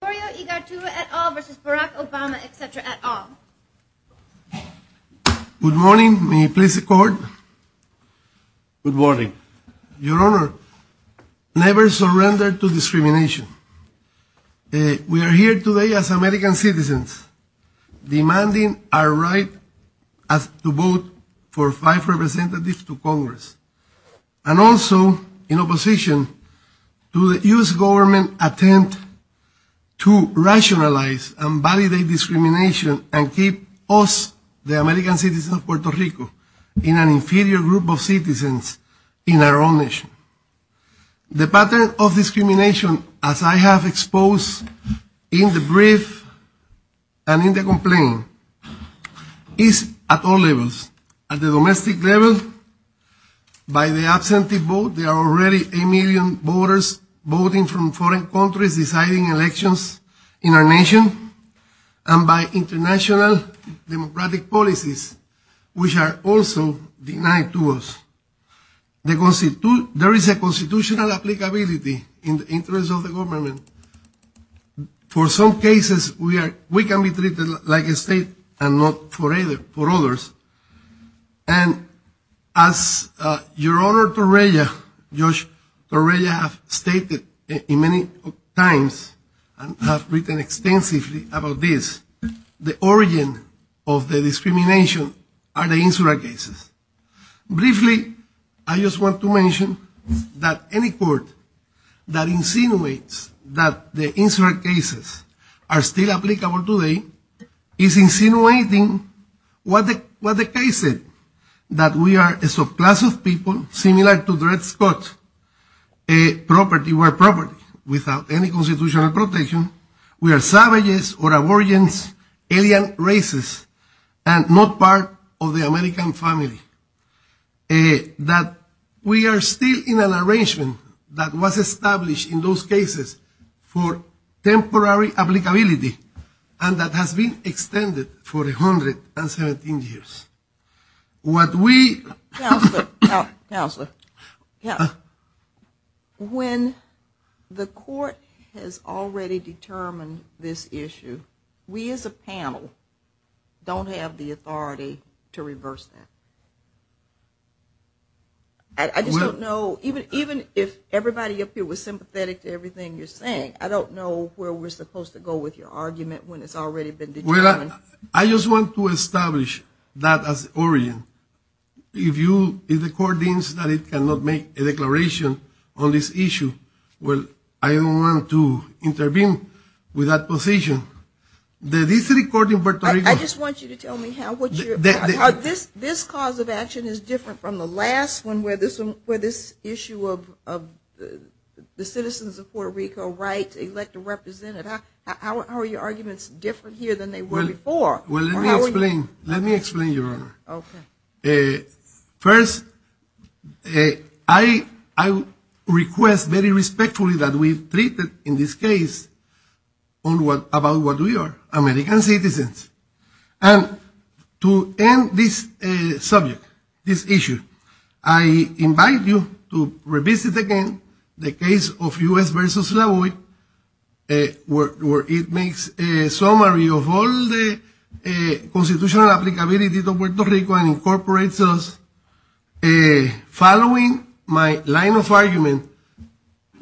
Antonio Igartua et al. v. Barack Obama, etc. et al. Good morning. May you please record? Good morning. Your Honor, never surrender to discrimination. We are here today as American citizens demanding our right to vote for five representatives to Congress and also in opposition to the U.S. government's attempt to rationalize and validate discrimination and keep us, the American citizens of Puerto Rico, in an inferior group of citizens in our own nation. The pattern of discrimination, as I have exposed in the brief and in the complaint, is at all levels. At the domestic level, by the absentee vote, there are already a million voters voting from foreign countries deciding elections in our nation, and by international democratic policies, which are also denied to us. There is a constitutional applicability in the interest of the government. For some cases, we can be treated like a state and not for others. And as Your Honor Torreya, Judge Torreya has stated many times and has written extensively about this, the origin of the discrimination are the insular cases. Briefly, I just want to mention that any court that insinuates that the insular cases are still applicable today is insinuating what the case said, that we are a subclass of people similar to Dred Scott, a property where property without any constitutional protection, we are savages or aborigines, alien races, and not part of the American family. That we are still in an arrangement that was established in those cases for temporary applicability and that has been extended for 117 years. What we... Counselor, when the court has already determined this issue, we as a panel don't have the authority to reverse that. I just don't know, even if everybody up here was sympathetic to everything you're saying, I don't know where we're supposed to go with your argument when it's already been determined. Well, I just want to establish that as origin. If the court deems that it cannot make a declaration on this issue, well, I don't want to intervene with that position. I just want you to tell me how this cause of action is different from the last one where this issue of the citizens of Puerto Rico right to elect a representative. How are your arguments different here than they were before? Well, let me explain. Let me explain, Your Honor. Okay. First, I request very respectfully that we treat in this case about what we are, American citizens. And to end this subject, this issue, I invite you to revisit again the case of U.S. versus La Voix where it makes a summary of all the constitutional applicability of Puerto Rico and incorporates us following my line of argument,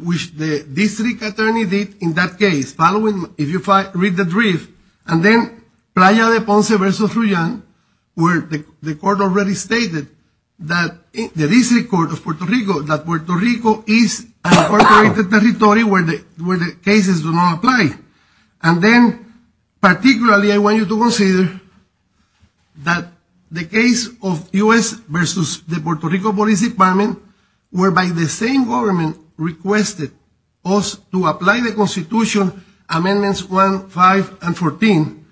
which the district attorney did in that case. Read the brief. And then Playa de Ponce versus Ruyan where the court already stated that the district court of Puerto Rico, that Puerto Rico is an incorporated territory where the cases do not apply. And then particularly I want you to consider that the case of U.S. versus the Puerto Rico Police Department whereby the same government requested us to amend amendments 1, 5, and 14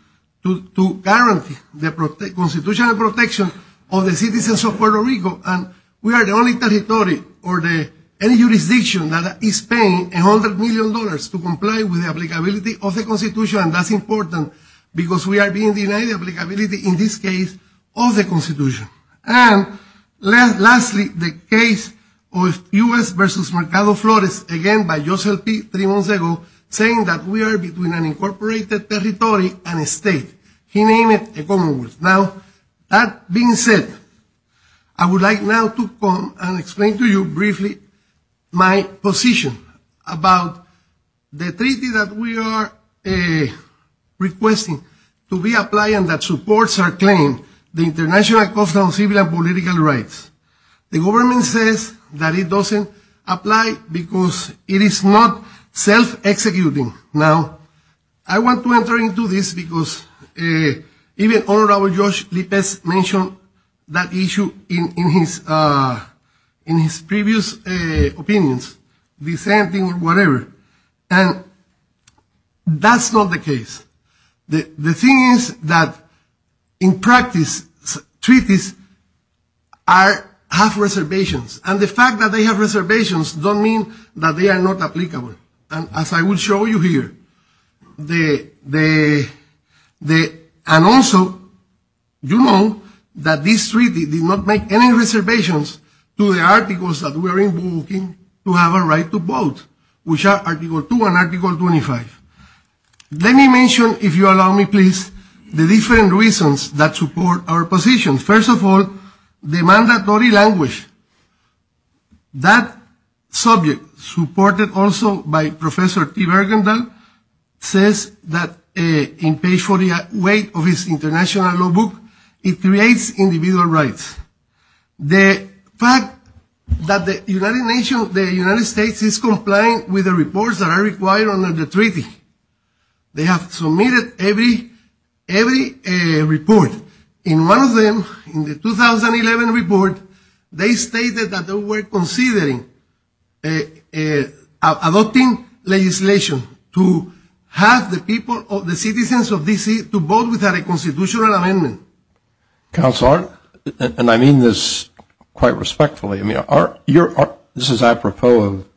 to guarantee the constitutional protection of the citizens of Puerto Rico. And we are the only territory or any jurisdiction that is paying $100 million to comply with the applicability of the Constitution. And that's important because we are being denied applicability in this case of the Constitution. And lastly, the case of U.S. versus Mercado Flores, again by Joseph P. de Moncego, saying that we are between an incorporated territory and a state. He named it a commonwealth. Now, that being said, I would like now to come and explain to you briefly my position about the treaty that we are requesting to be applied and that supports our claim, the International Covenant on Civil and Political Rights. The government says that it doesn't apply because it is not self-executing. Now, I want to enter into this because even Honorable Josh Lippes mentioned that issue in his previous opinions, dissenting or whatever, and that's not the case. The thing is that in practice, treaties have reservations. And the fact that they have reservations don't mean that they are not applicable. And as I will show you here, and also you know that this treaty did not make any reservations to the articles that we are invoking to have a right to vote, which are Article 2 and Article 25. Let me mention, if you allow me please, the different reasons that support our position. First of all, the mandatory language. That subject, supported also by Professor T. Bergendahl, says that in page 48 of his international law book, it creates individual rights. The fact that the United States is complying with the reports that are required under the treaty. They have submitted every report. In one of them, in the 2011 report, they stated that they were considering adopting legislation to have the citizens of D.C. to vote without a constitutional amendment. Counsel, and I mean this quite respectfully. I mean, this is apropos of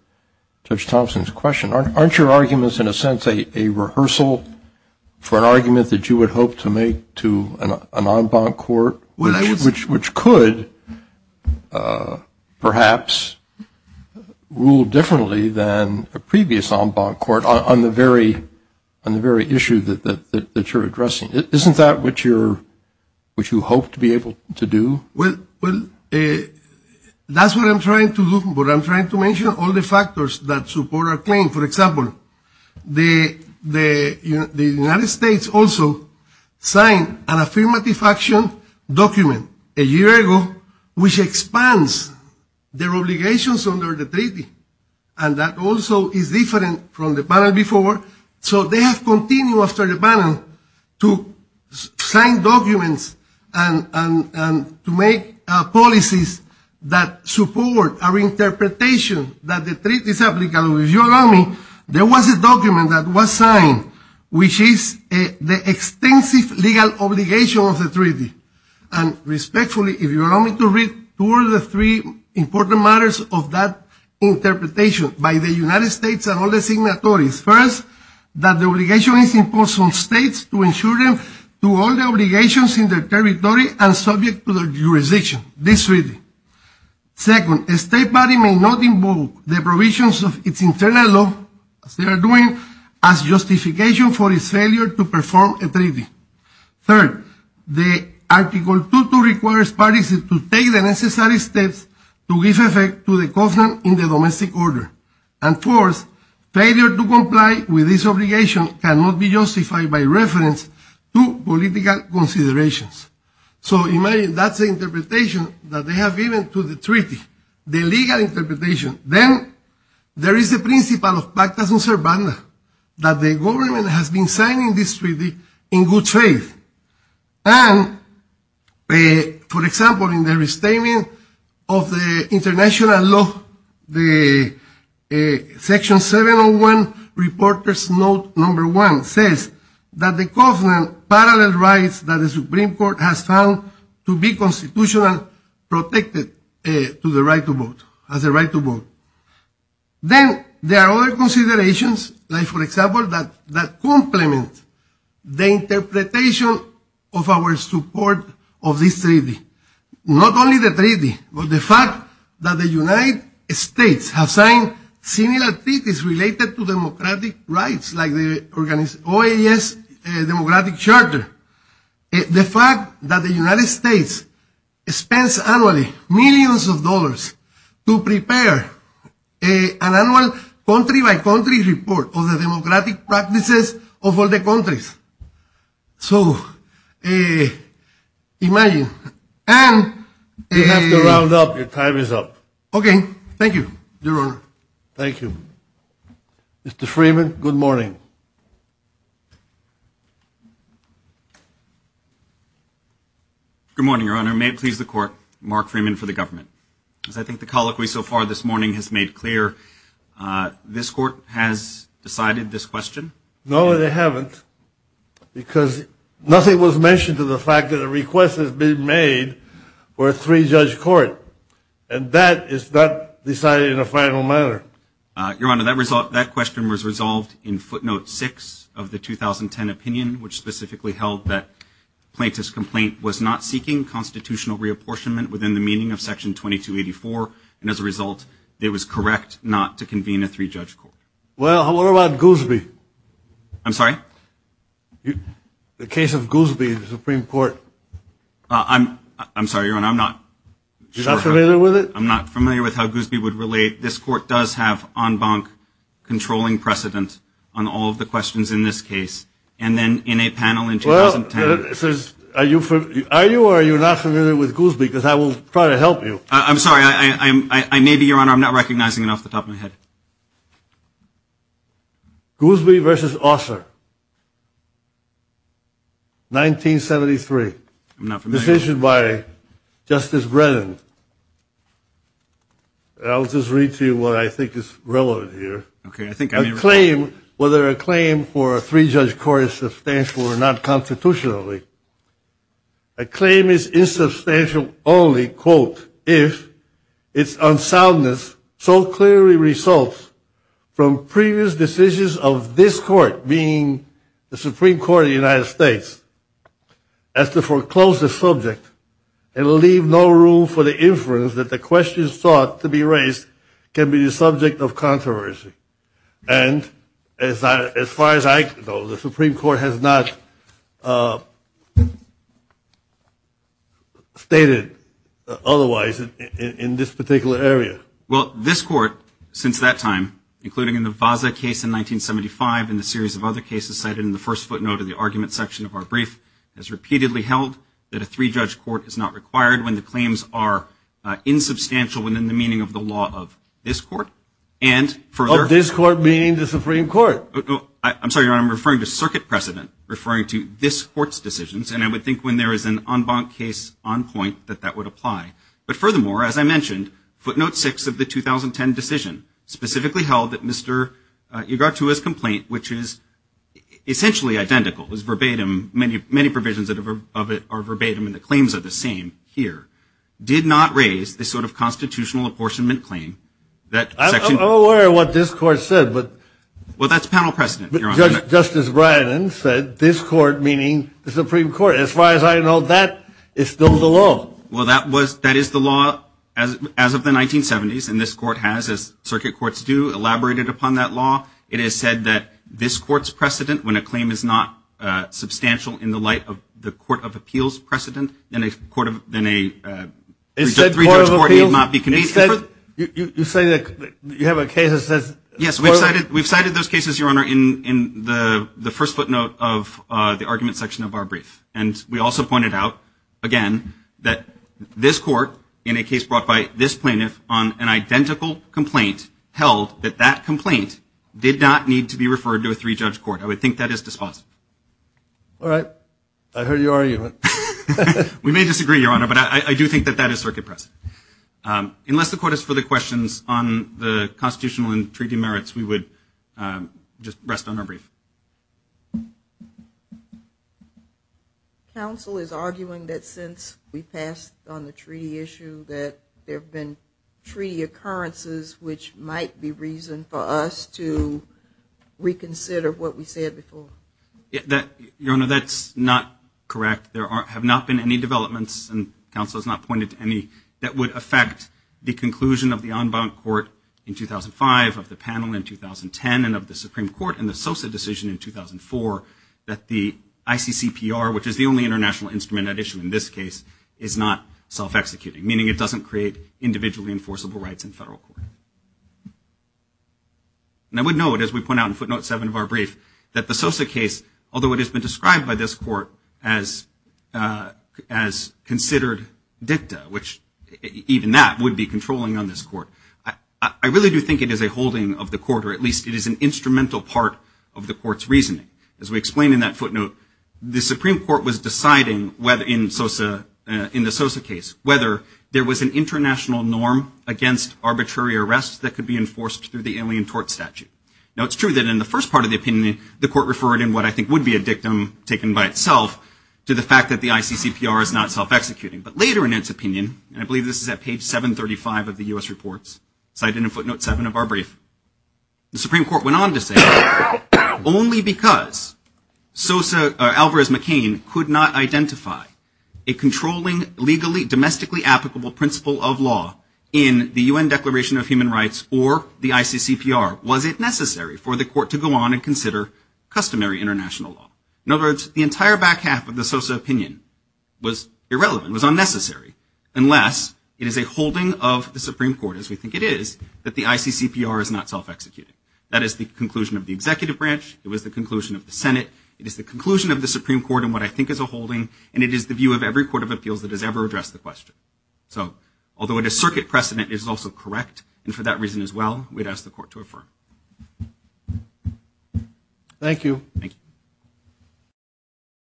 Judge Thompson's question. Aren't your arguments in a sense a rehearsal for an argument that you would hope to make to an en banc court, which could perhaps rule differently than a previous en banc court on the very issue that you're addressing? Isn't that what you hope to be able to do? Well, that's what I'm trying to do. But I'm trying to mention all the factors that support our claim. For example, the United States also signed an affirmative action document a year ago, which expands their obligations under the treaty. And that also is different from the panel before. So they have continued after the panel to sign documents and to make policies that support our interpretation that the treaty is applicable. If you allow me, there was a document that was signed, which is the extensive legal obligation of the treaty. And respectfully, if you allow me to read two or three important matters of that interpretation by the United States and all the signatories, first, that the obligation is imposed on states to ensure them to all the obligations in their territory and subject to their jurisdiction, this treaty. Second, a state body may not invoke the provisions of its internal law, as they are doing, as justification for its failure to perform a treaty. Third, the Article 22 requires parties to take the necessary steps to give effect to the covenant in the domestic order. And fourth, failure to comply with this obligation cannot be justified by reference to political considerations. So imagine that's the interpretation that they have given to the treaty, the legal interpretation. Then there is the principle of practice and survival that the government has been signing this treaty in good faith. And, for example, in the restatement of the international law, Section 701, reporters note number one says that the covenant parallel rights that the Supreme Court has found to be constitutional protected to the right to vote, as a right to vote. Then there are other considerations, like, for example, that complement the interpretation of our support of this treaty. Not only the treaty, but the fact that the United States has signed similar treaties related to democratic rights, like the OAS Democratic Charter. The fact that the United States spends annually millions of dollars to prepare an annual country-by-country report of the democratic practices of all the countries. So imagine. And you have to round up. Your time is up. Okay. Thank you, Your Honor. Thank you. Mr. Freeman, good morning. Good morning, Your Honor. May it please the Court, Mark Freeman for the government. As I think the colloquy so far this morning has made clear, this Court has decided this question? No, they haven't, because nothing was mentioned to the fact that a request has been made for a three-judge court. And that is not decided in a final manner. Your Honor, that question was resolved in footnote six of the 2010 opinion, which specifically held that plaintiff's complaint was not seeking constitutional reapportionment within the meaning of Section 2284. And as a result, it was correct not to convene a three-judge court. Well, what about Goosby? I'm sorry? The case of Goosby, the Supreme Court. I'm sorry, Your Honor, I'm not sure. You're not familiar with it? I'm not familiar with how Goosby would relate. This Court does have en banc controlling precedent on all of the questions in this case. And then in a panel in 2010. Are you or are you not familiar with Goosby? Because I will try to help you. I'm sorry, I may be, Your Honor. I'm not recognizing it off the top of my head. Goosby v. Osler, 1973. I'm not familiar. Decision by Justice Brennan. I'll just read to you what I think is relevant here. Okay. I think I may be wrong. A claim, whether a claim for a three-judge court is substantial or not constitutionally, a claim is insubstantial only, quote, if its unsoundness so clearly results from previous decisions of this court, meaning the Supreme Court of the United States, as the foreclosest subject, it will leave no room for the inference that the questions sought to be raised can be the subject of controversy. And as far as I know, the Supreme Court has not stated otherwise in this particular area. Well, this court, since that time, including in the Vaza case in 1975 and a series of other cases cited in the first footnote of the argument section of our brief, has repeatedly held that a three-judge court is not required when the claims are insubstantial within the meaning of the law of this court. Of this court meaning the Supreme Court. I'm sorry, Your Honor, I'm referring to circuit precedent, referring to this court's decisions, and I would think when there is an en banc case on point that that would apply. But furthermore, as I mentioned, footnote six of the 2010 decision specifically held that Mr. which is essentially identical, is verbatim, many provisions of it are verbatim and the claims are the same here, did not raise this sort of constitutional apportionment claim. I'm not aware of what this court said. Well, that's panel precedent, Your Honor. Justice Breyton said this court, meaning the Supreme Court. As far as I know, that is still the law. Well, that is the law as of the 1970s, and this court has, as circuit courts do, elaborated upon that law. It is said that this court's precedent, when a claim is not substantial in the light of the court of appeals precedent, than a court of, than a three-judge court need not be convened. You say that you have a case that says. Yes, we've cited those cases, Your Honor, in the first footnote of the argument section of our brief. And we also pointed out, again, that this court, in a case brought by this plaintiff, on an identical complaint held that that complaint did not need to be referred to a three-judge court. I would think that is dispositive. All right. I heard your argument. We may disagree, Your Honor, but I do think that that is circuit precedent. Unless the court has further questions on the constitutional and treaty merits, we would just rest on our brief. Counsel is arguing that since we passed on the treaty issue that there have been treaty occurrences which might be reason for us to reconsider what we said before. Your Honor, that's not correct. There have not been any developments, and counsel has not pointed to any, that would affect the conclusion of the en banc court in 2005, of the panel in 2010, and of the Supreme Court in the SOSA decision in 2004, that the ICCPR, which is the only international instrument at issue in this case, is not self-executing, meaning it doesn't create individually enforceable rights in federal court. And I would note, as we point out in footnote seven of our brief, that the SOSA case, although it has been described by this court as considered dicta, which even that would be controlling on this court, I really do think it is a holding of the court, or at least it is an instrumental part of the court's reasoning. As we explain in that footnote, the Supreme Court was deciding, in the SOSA case, whether there was an international norm against arbitrary arrests that could be enforced through the Alien Tort Statute. Now, it's true that in the first part of the opinion, the court referred in what I think would be a dictum, taken by itself, to the fact that the ICCPR is not self-executing. But later in its opinion, and I believe this is at page 735 of the U.S. reports, cited in footnote seven of our brief, the Supreme Court went on to say, only because SOSA, Alvarez-McCain, could not identify a controlling, legally, domestically applicable principle of law in the UN Declaration of Human Rights or the ICCPR was it necessary for the court to go on and consider customary international law. In other words, the entire back half of the SOSA opinion was irrelevant, was unnecessary, unless it is a holding of the Supreme Court, as we think it is, that the ICCPR is not self-executing. That is the conclusion of the executive branch, it was the conclusion of the Senate, it is the conclusion of the Supreme Court in what I think is a holding, and it is the view of every court of appeals that has ever addressed the question. So, although it is circuit precedent, it is also correct, and for that reason as well, we'd ask the court to affirm. Thank you. Thank you.